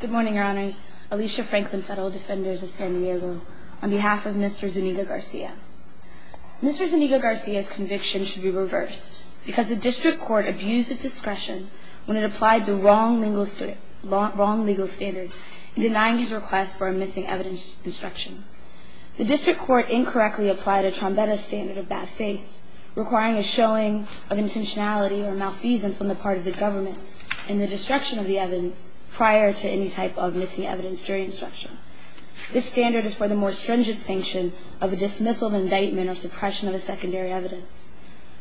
Good morning, Your Honors. Alicia Franklin, Federal Defenders of San Diego, on behalf of Mr. Zuniga-Garcia. Mr. Zuniga-Garcia's conviction should be reversed because the District Court abused its discretion when it applied the wrong legal standards in denying his request for a missing evidence instruction. This standard is for the more stringent sanction of a dismissal of indictment or suppression of a secondary evidence.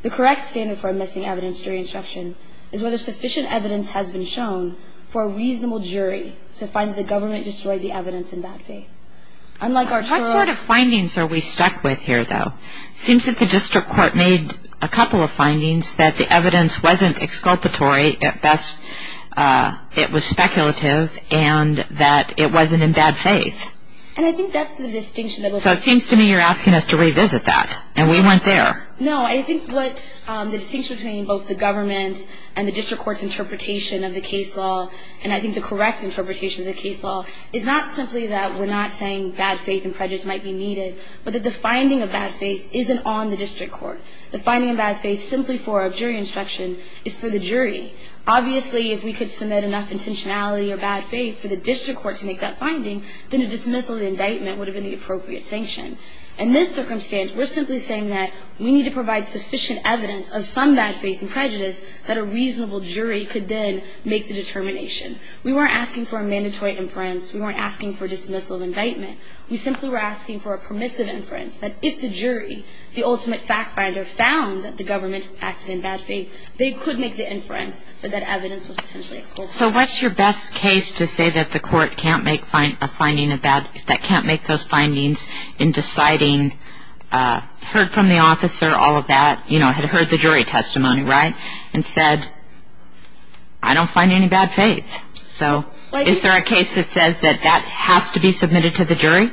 The correct standard for a missing evidence jury instruction is whether sufficient evidence has been shown for a reasonable jury to find that the government destroyed the evidence in bad faith. Unlike Arturo- What sort of findings are we stuck with here, though? It seems that the District Court made a couple of findings that the evidence wasn't exculpatory, at best it was speculative, and that it wasn't in bad faith. And I think that's the distinction- So it seems to me you're asking us to revisit that, and we went there. No, I think what the distinction between both the government and the District Court's interpretation of the case law, and I think the correct interpretation of the case law, is not simply that we're not saying bad faith and prejudice might be needed, but that the finding of bad faith isn't on the District Court. The finding of bad faith simply for a jury instruction is for the jury. Obviously, if we could submit enough intentionality or bad faith for the District Court to make that finding, then a dismissal of indictment would have been the appropriate sanction. In this circumstance, we're simply saying that we need to provide sufficient evidence of some bad faith and prejudice that a reasonable jury could then make the determination. We weren't asking for a mandatory inference. We weren't asking for a dismissal of indictment. We simply were asking for a permissive inference that if the jury, the ultimate fact finder, found that the government acted in bad faith, they could make the inference that that evidence was potentially exculpable. So what's your best case to say that the court can't make a finding of bad- that can't make those findings in deciding, heard from the officer, all of that, you know, had heard the jury testimony, right, and said, I don't find any bad faith. So is there a case that says that that has to be submitted to the jury?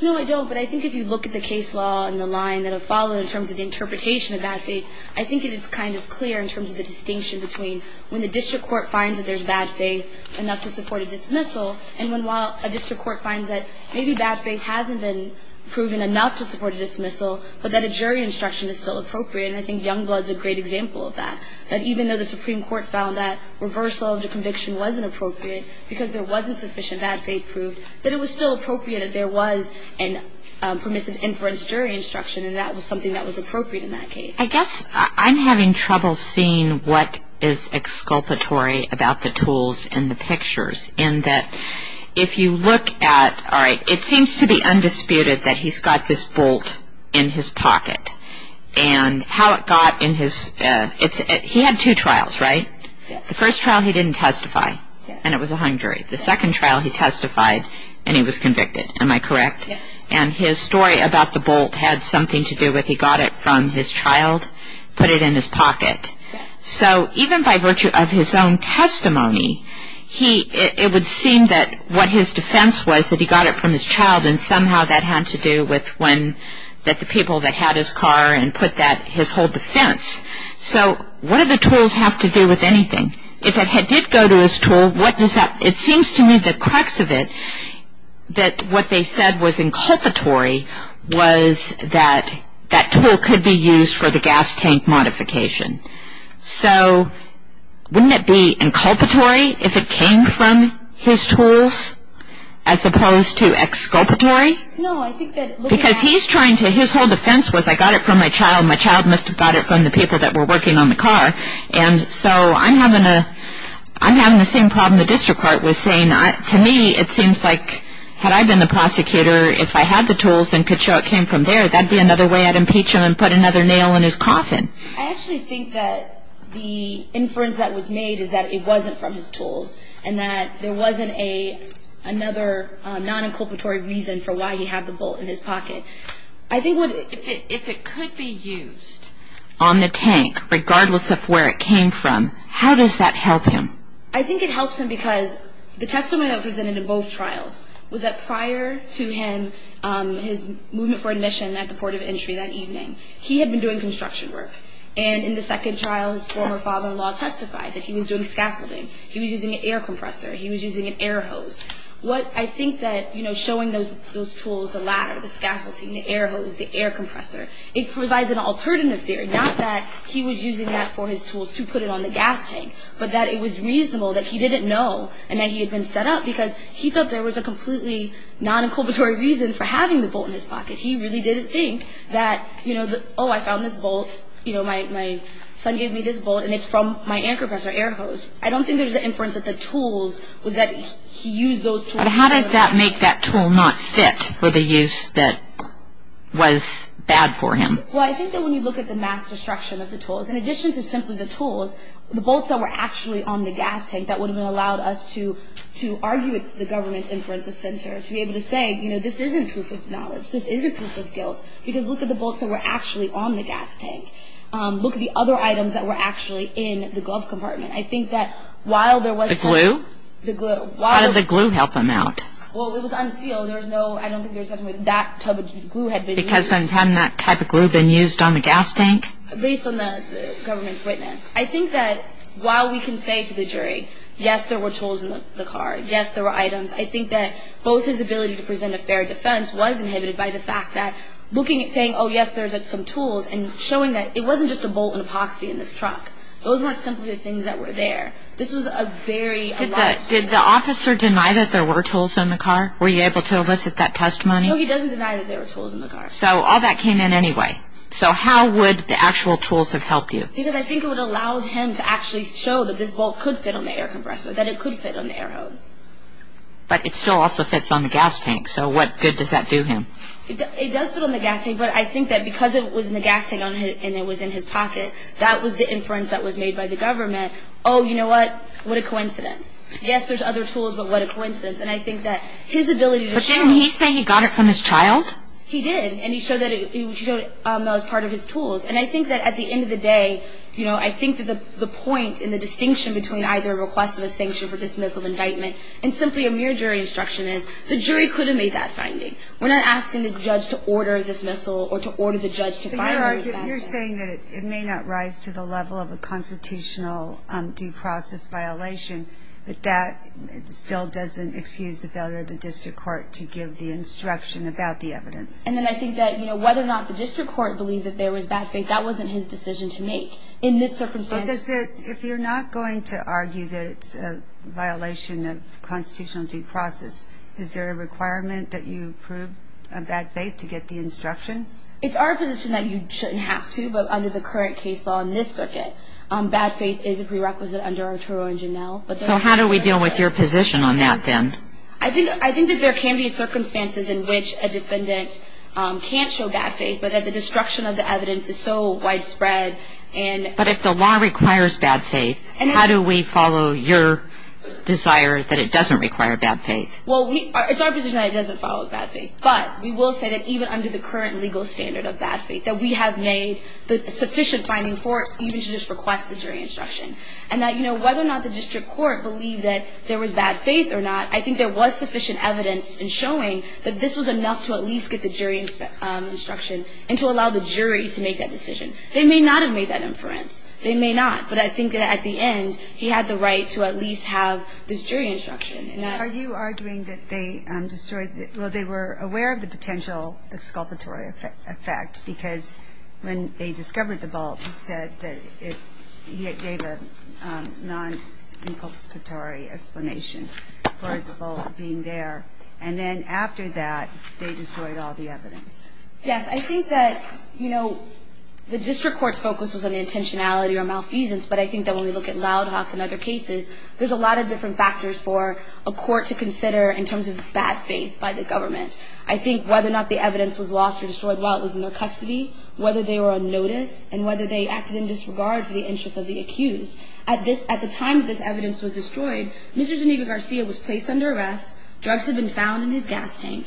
No, I don't. But I think if you look at the case law and the line that have followed in terms of the interpretation of bad faith, I think it is kind of clear in terms of the distinction between when the District Court finds that there's bad faith, enough to support a dismissal, and when while a District Court finds that maybe bad faith hasn't been proven enough to support a dismissal, but that a jury instruction is still appropriate. And I think Youngblood's a great example of that. That even though the Supreme Court found that reversal of the conviction wasn't appropriate because there wasn't sufficient bad faith proof, that it was still appropriate that there was a permissive inference jury instruction, and that was something that was appropriate in that case. I guess I'm having trouble seeing what is exculpatory about the tools in the pictures, in that if you look at, all right, it seems to be undisputed that he's got this bolt in his pocket. And how it got in his, he had two trials, right? Yes. The first trial he didn't testify. Yes. And it was a hung jury. The second trial he testified and he was convicted. Am I correct? Yes. And his story about the bolt had something to do with he got it from his child, put it in his pocket. Yes. So even by virtue of his own testimony, it would seem that what his defense was that he got it from his child, and somehow that had to do with when, that the people that had his car and put that, his whole defense. So what do the tools have to do with anything? If it did go to his tool, what does that, it seems to me the crux of it, that what they said was inculpatory was that that tool could be used for the gas tank modification. So wouldn't it be inculpatory if it came from his tools as opposed to exculpatory? No, I think that. Because he's trying to, his whole defense was I got it from my child, my child must have got it from the people that were working on the car. And so I'm having a, I'm having the same problem the district court was saying. To me it seems like had I been the prosecutor, if I had the tools and could show it came from there, that would be another way I'd impeach him and put another nail in his coffin. I actually think that the inference that was made is that it wasn't from his tools and that there wasn't another non-inculpatory reason for why he had the bolt in his pocket. I think if it could be used on the tank, regardless of where it came from, how does that help him? I think it helps him because the testimony I presented in both trials was that prior to him, his movement for admission at the port of entry that evening, he had been doing construction work. And in the second trial his former father-in-law testified that he was doing scaffolding. He was using an air compressor. He was using an air hose. What I think that showing those tools, the ladder, the scaffolding, the air hose, the air compressor, it provides an alternative theory, not that he was using that for his tools to put it on the gas tank, but that it was reasonable that he didn't know and that he had been set up because he thought there was a completely non-inculpatory reason for having the bolt in his pocket. He really didn't think that, you know, oh, I found this bolt, you know, my son gave me this bolt, and it's from my air compressor, air hose. I don't think there's an inference that the tools was that he used those tools. But how does that make that tool not fit for the use that was bad for him? Well, I think that when you look at the mass destruction of the tools, in addition to simply the tools, the bolts that were actually on the gas tank that would have allowed us to argue with the government's inference of center, to be able to say, you know, this isn't proof of knowledge, this isn't proof of guilt, because look at the bolts that were actually on the gas tank. Look at the other items that were actually in the glove compartment. I think that while there was touch. The glue? The glue. Why did the glue help him out? Well, it was unsealed. There was no, I don't think there was anything with that type of glue had been used. Because hadn't that type of glue been used on the gas tank? Based on the government's witness. I think that while we can say to the jury, yes, there were tools in the car, yes, there were items, I think that both his ability to present a fair defense was inhibited by the fact that looking at saying, oh, yes, there's some tools, and showing that it wasn't just a bolt and epoxy in this truck. Those weren't simply the things that were there. This was a very alive tool. Did the officer deny that there were tools in the car? Were you able to elicit that testimony? No, he doesn't deny that there were tools in the car. So all that came in anyway. Okay. So how would the actual tools have helped you? Because I think it would have allowed him to actually show that this bolt could fit on the air compressor, that it could fit on the air hose. But it still also fits on the gas tank, so what good does that do him? It does fit on the gas tank, but I think that because it was in the gas tank and it was in his pocket, that was the inference that was made by the government, oh, you know what, what a coincidence. Yes, there's other tools, but what a coincidence. And I think that his ability to show. But didn't he say he got it from his child? He did, and he showed that it was part of his tools. And I think that at the end of the day, you know, I think that the point in the distinction between either a request of a sanction for dismissal of indictment and simply a mere jury instruction is the jury could have made that finding. We're not asking the judge to order a dismissal or to order the judge to find it. You're saying that it may not rise to the level of a constitutional due process violation, but that still doesn't excuse the failure of the district court to give the instruction about the evidence. And then I think that, you know, whether or not the district court believed that there was bad faith, that wasn't his decision to make in this circumstance. If you're not going to argue that it's a violation of constitutional due process, is there a requirement that you prove a bad faith to get the instruction? It's our position that you shouldn't have to, but under the current case law in this circuit, bad faith is a prerequisite under Arturo and Janelle. So how do we deal with your position on that, then? I think that there can be circumstances in which a defendant can't show bad faith, but that the destruction of the evidence is so widespread. But if the law requires bad faith, how do we follow your desire that it doesn't require bad faith? Well, it's our position that it doesn't follow bad faith. But we will say that even under the current legal standard of bad faith, that we have made the sufficient finding for it even to just request the jury instruction. And that, you know, whether or not the district court believed that there was bad faith or not, I think there was sufficient evidence in showing that this was enough to at least get the jury instruction and to allow the jury to make that decision. They may not have made that inference. They may not. But I think that at the end, he had the right to at least have this jury instruction. Are you arguing that they destroyed the – well, they were aware of the potential exculpatory effect because when they discovered the vault, he said that it – he gave a non-exculpatory explanation for the vault being there. And then after that, they destroyed all the evidence. Yes. I think that, you know, the district court's focus was on intentionality or malfeasance. But I think that when we look at Loud Hawk and other cases, there's a lot of different factors for a court to consider in terms of bad faith by the government. I think whether or not the evidence was lost or destroyed while it was in their custody, whether they were on notice, and whether they acted in disregard for the interests of the accused. At this – at the time this evidence was destroyed, Mr. Geneva Garcia was placed under arrest. Drugs had been found in his gas tank.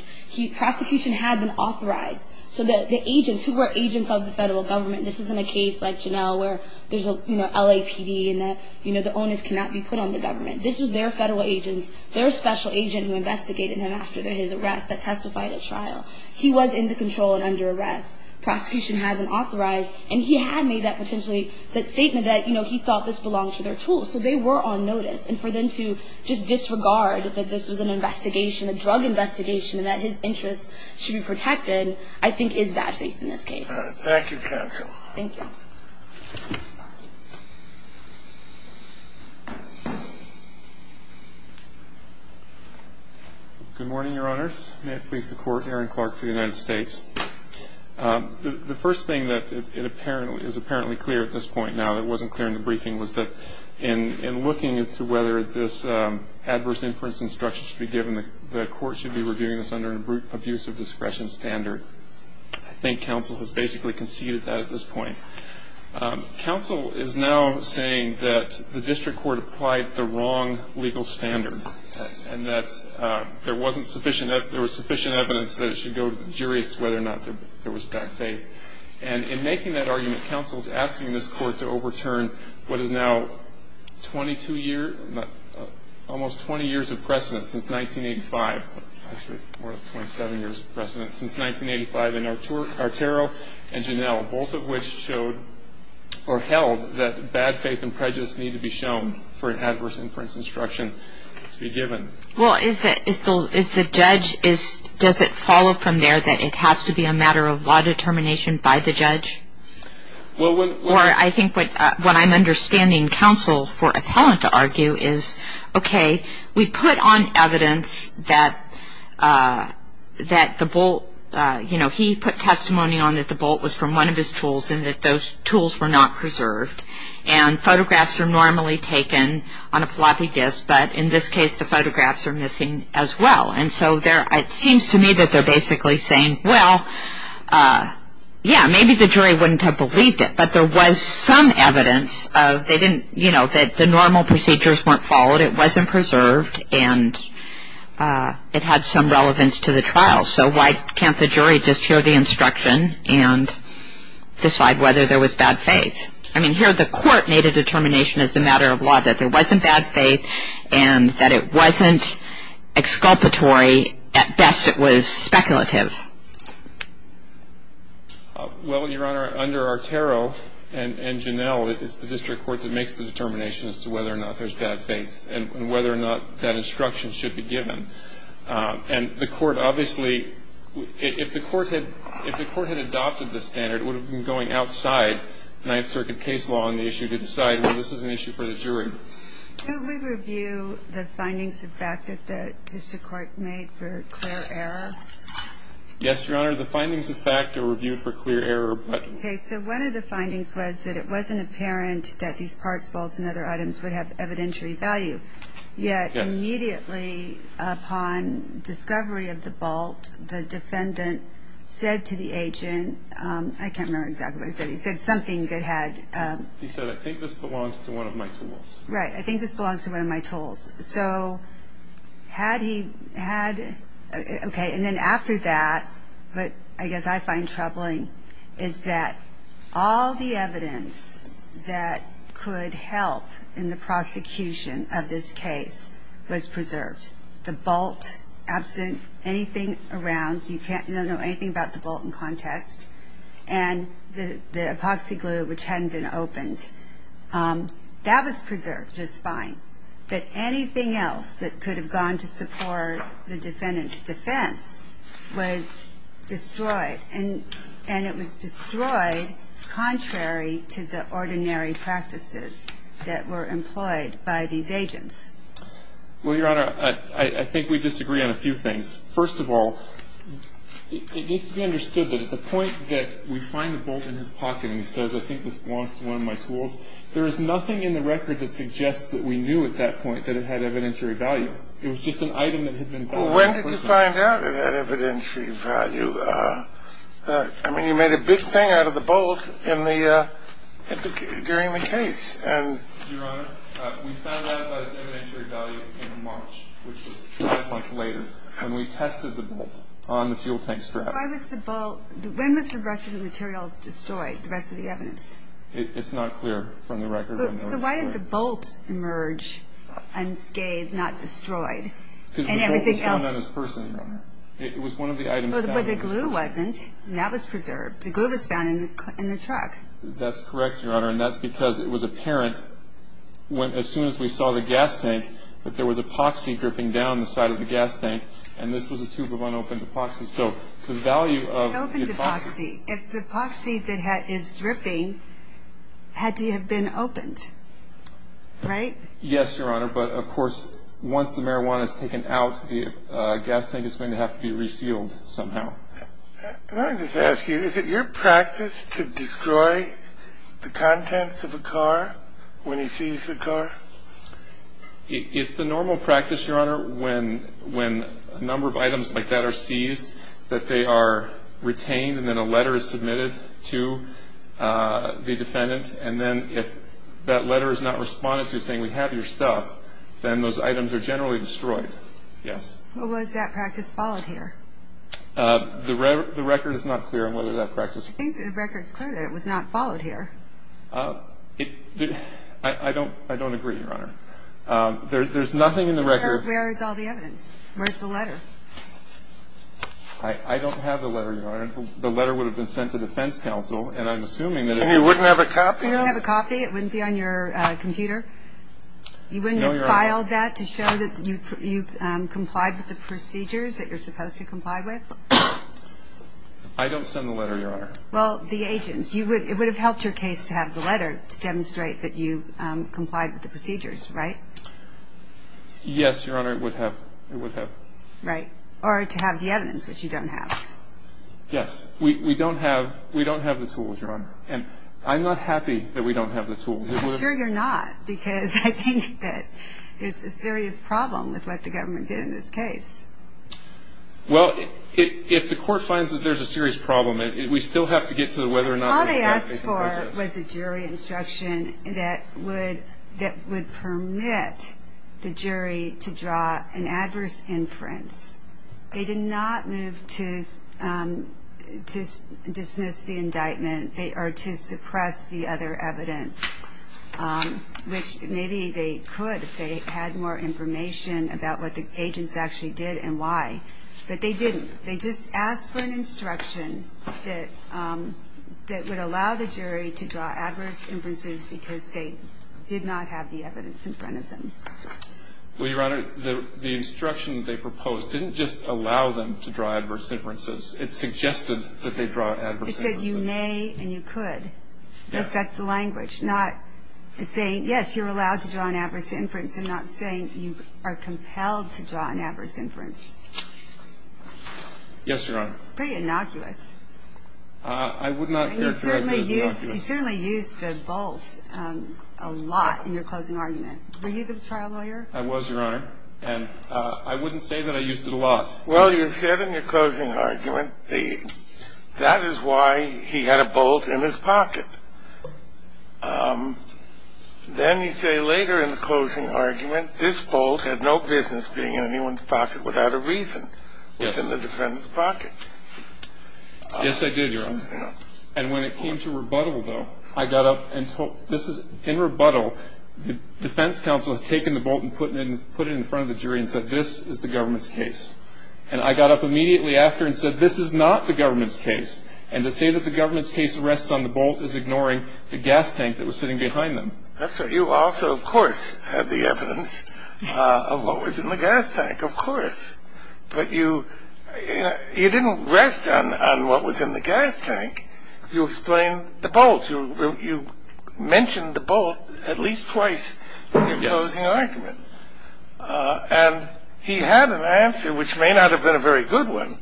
Prosecution had been authorized. So the agents who were agents of the federal government – this isn't a case like Janelle where there's a, you know, LAPD and that, you know, the onus cannot be put on the government. This was their federal agents, their special agent who investigated him after his arrest that testified at trial. He was in the control and under arrest. Prosecution had been authorized. And he had made that potentially – that statement that, you know, he thought this belonged to their tools. So they were on notice. And for them to just disregard that this was an investigation, a drug investigation, and that his interests should be protected, I think is bad faith in this case. Thank you, counsel. Thank you. Good morning, Your Honors. May it please the Court, Aaron Clark for the United States. The first thing that is apparently clear at this point now that wasn't clear in the briefing was that in looking as to whether this adverse inference instruction should be given, the Court should be reviewing this under an abuse of discretion standard. I think counsel has basically conceded that at this point. Counsel is now saying that the district court applied the wrong legal standard and that there wasn't sufficient – there was sufficient evidence that it should go to the jury as to whether or not there was bad faith. And in making that argument, counsel is asking this Court to overturn what is now 22 years – almost 20 years of precedent since 1985 – more like 27 years of precedent since 1985 in Arturo and Janelle, both of which showed or held that bad faith and prejudice need to be shown for an adverse inference instruction to be given. Well, is the judge – does it follow from there that it has to be a matter of law determination by the judge? Or I think what I'm understanding counsel for appellant to argue is, okay, we put on evidence that the Bolt – you know, he put testimony on that the Bolt was from one of his tools and that those tools were not preserved, and photographs are normally taken on a floppy disk, but in this case the photographs are missing as well. And so it seems to me that they're basically saying, well, yeah, maybe the jury wouldn't have believed it, but there was some evidence of they didn't – you know, that the normal procedures weren't followed, it wasn't preserved, and it had some relevance to the trial. So why can't the jury just hear the instruction and decide whether there was bad faith? I mean, here the Court made a determination as a matter of law that there wasn't bad faith and that it wasn't exculpatory. At best it was speculative. Well, Your Honor, under our tarot and Janelle, it's the district court that makes the determination as to whether or not there's bad faith and whether or not that instruction should be given. And the Court obviously – if the Court had adopted the standard, it would have been going outside Ninth Circuit case law on the issue to decide, well, this is an issue for the jury. Could we review the findings of fact that the district court made for clear error? Yes, Your Honor. The findings of fact are reviewed for clear error. Okay. So one of the findings was that it wasn't apparent that these parts, bolts, and other items would have evidentiary value. Yes. Yet immediately upon discovery of the bolt, the defendant said to the agent – I can't remember exactly what he said. He said something that had – He said, I think this belongs to one of my tools. Right. I think this belongs to one of my tools. So had he had – okay. And then after that, what I guess I find troubling is that all the evidence that could help in the prosecution of this case was preserved. The bolt, absent anything around, so you can't know anything about the bolt in context, and the epoxy glue, which hadn't been opened, that was preserved just fine. But anything else that could have gone to support the defendant's defense was destroyed, and it was destroyed contrary to the ordinary practices that were employed by these agents. Well, Your Honor, I think we disagree on a few things. First of all, it needs to be understood that at the point that we find the bolt in his pocket and he says, I think this belongs to one of my tools, there is nothing in the record that suggests that we knew at that point that it had evidentiary value. It was just an item that had been found. Well, when did you find out it had evidentiary value? I mean, you made a big thing out of the bolt during the case. Your Honor, we found out about its evidentiary value in March, which was five months later, when we tested the bolt on the fuel tank strap. When was the rest of the materials destroyed, the rest of the evidence? It's not clear from the record. So why did the bolt emerge unscathed, not destroyed? Because the bolt was found on his purse, Your Honor. It was one of the items found in his purse. But the glue wasn't, and that was preserved. The glue was found in the truck. That's correct, Your Honor, and that's because it was apparent as soon as we saw the gas tank that there was epoxy dripping down the side of the gas tank, and this was a tube of unopened epoxy. So the value of the epoxy. Opened epoxy. If the epoxy that is dripping had to have been opened, right? Yes, Your Honor, but, of course, once the marijuana is taken out, the gas tank is going to have to be resealed somehow. Can I just ask you, is it your practice to destroy the contents of a car when you seize a car? It's the normal practice, Your Honor, when a number of items like that are seized, that they are retained and then a letter is submitted to the defendant, and then if that letter is not responded to saying, We have your stuff, then those items are generally destroyed. Yes? Was that practice followed here? The record is not clear on whether that practice. I think the record is clear that it was not followed here. I don't agree, Your Honor. There's nothing in the record. Where is all the evidence? Where's the letter? I don't have the letter, Your Honor. The letter would have been sent to defense counsel, and I'm assuming that it would have been. And you wouldn't have a copy of it? You wouldn't have a copy? It wouldn't be on your computer? No, Your Honor. You wouldn't have filed that to show that you complied with the procedures that you're supposed to comply with? I don't send the letter, Your Honor. Well, the agents. It would have helped your case to have the letter to demonstrate that you complied with the procedures, right? Yes, Your Honor, it would have. It would have. Right. Or to have the evidence, which you don't have. Yes. We don't have the tools, Your Honor. And I'm not happy that we don't have the tools. I'm sure you're not, because I think that there's a serious problem with what the government did in this case. Well, if the court finds that there's a serious problem, we still have to get to whether or not we've done anything. All they asked for was a jury instruction that would permit the jury to draw an adverse inference. They did not move to dismiss the indictment or to suppress the other evidence, which maybe they could if they had more information about what the agents actually did and why. But they didn't. They just asked for an instruction that would allow the jury to draw adverse inferences because they did not have the evidence in front of them. Well, Your Honor, the instruction they proposed didn't just allow them to draw adverse inferences. It suggested that they draw adverse inferences. It said you may and you could. Yes. That's the language. It's saying, yes, you're allowed to draw an adverse inference. I'm not saying you are compelled to draw an adverse inference. Yes, Your Honor. Pretty innocuous. I would not characterize it as innocuous. You certainly used the vault a lot in your closing argument. Were you the trial lawyer? I was, Your Honor. And I wouldn't say that I used it a lot. Well, you said in your closing argument that is why he had a vault in his pocket. Then you say later in the closing argument this vault had no business being in anyone's pocket without a reason. Yes. It was in the defendant's pocket. Yes, I did, Your Honor. And when it came to rebuttal, though, I got up and told them. Because in rebuttal, the defense counsel had taken the vault and put it in front of the jury and said this is the government's case. And I got up immediately after and said this is not the government's case. And to say that the government's case rests on the vault is ignoring the gas tank that was sitting behind them. That's right. You also, of course, had the evidence of what was in the gas tank, of course. But you didn't rest on what was in the gas tank. You explained the vault. You mentioned the vault at least twice in your closing argument. And he had an answer, which may not have been a very good one,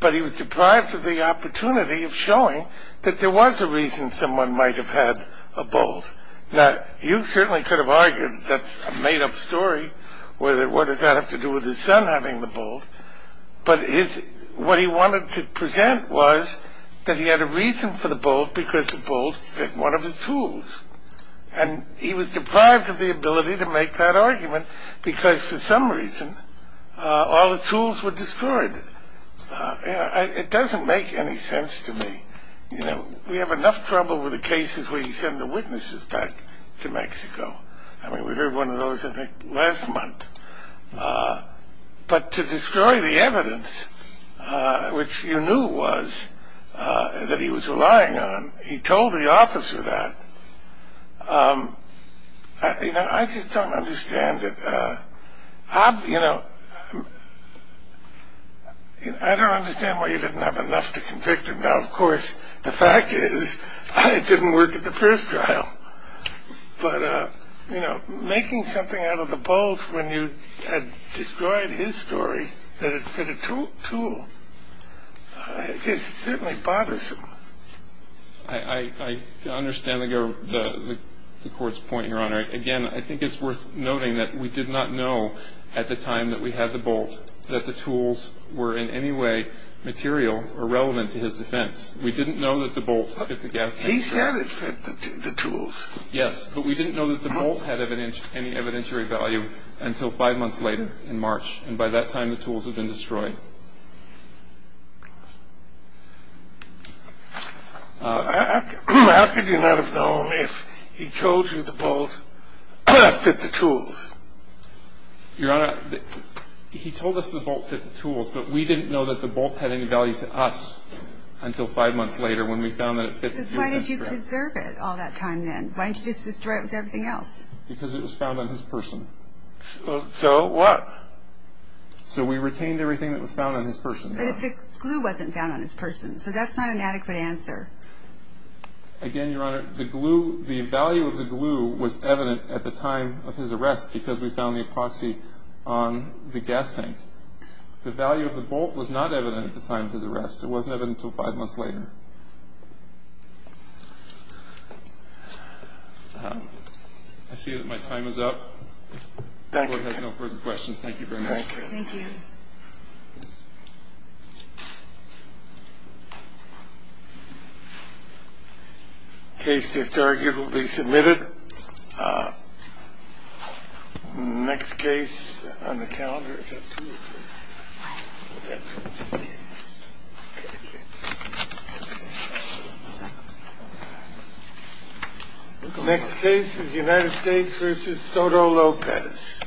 but he was deprived of the opportunity of showing that there was a reason someone might have had a vault. Now, you certainly could have argued that's a made-up story. What does that have to do with his son having the vault? But what he wanted to present was that he had a reason for the vault because the vault was one of his tools. And he was deprived of the ability to make that argument because, for some reason, all his tools were destroyed. It doesn't make any sense to me. We have enough trouble with the cases where you send the witnesses back to Mexico. I mean, we heard one of those, I think, last month. But to destroy the evidence, which you knew was that he was relying on, he told the officer that. You know, I just don't understand it. You know, I don't understand why you didn't have enough to convict him. Now, of course, the fact is it didn't work at the first trial. But, you know, making something out of the vault when you had destroyed his story, that it fit a tool, it certainly bothers him. I understand the court's point, Your Honor. Again, I think it's worth noting that we did not know at the time that we had the vault that the tools were in any way material or relevant to his defense. We didn't know that the vault fit the gas tank. He said it fit the tools. Yes, but we didn't know that the vault had any evidentiary value until five months later in March. And by that time, the tools had been destroyed. How could you not have known if he told you the vault fit the tools? Your Honor, he told us the vault fit the tools, but we didn't know that the vault had any value to us until five months later when we found that it fit the tools. But why did you preserve it all that time then? Why didn't you just destroy it with everything else? Because it was found on his person. So what? So we retained everything that was found on his person. But the glue wasn't found on his person, so that's not an adequate answer. Again, Your Honor, the value of the glue was evident at the time of his arrest because we found the epoxy on the gas tank. The value of the vault was not evident at the time of his arrest. It wasn't evident until five months later. I see that my time is up. The court has no further questions. Thank you very much. Thank you. Case is arguably submitted. Next case on the calendar. Next case is United States versus Soto Lopez.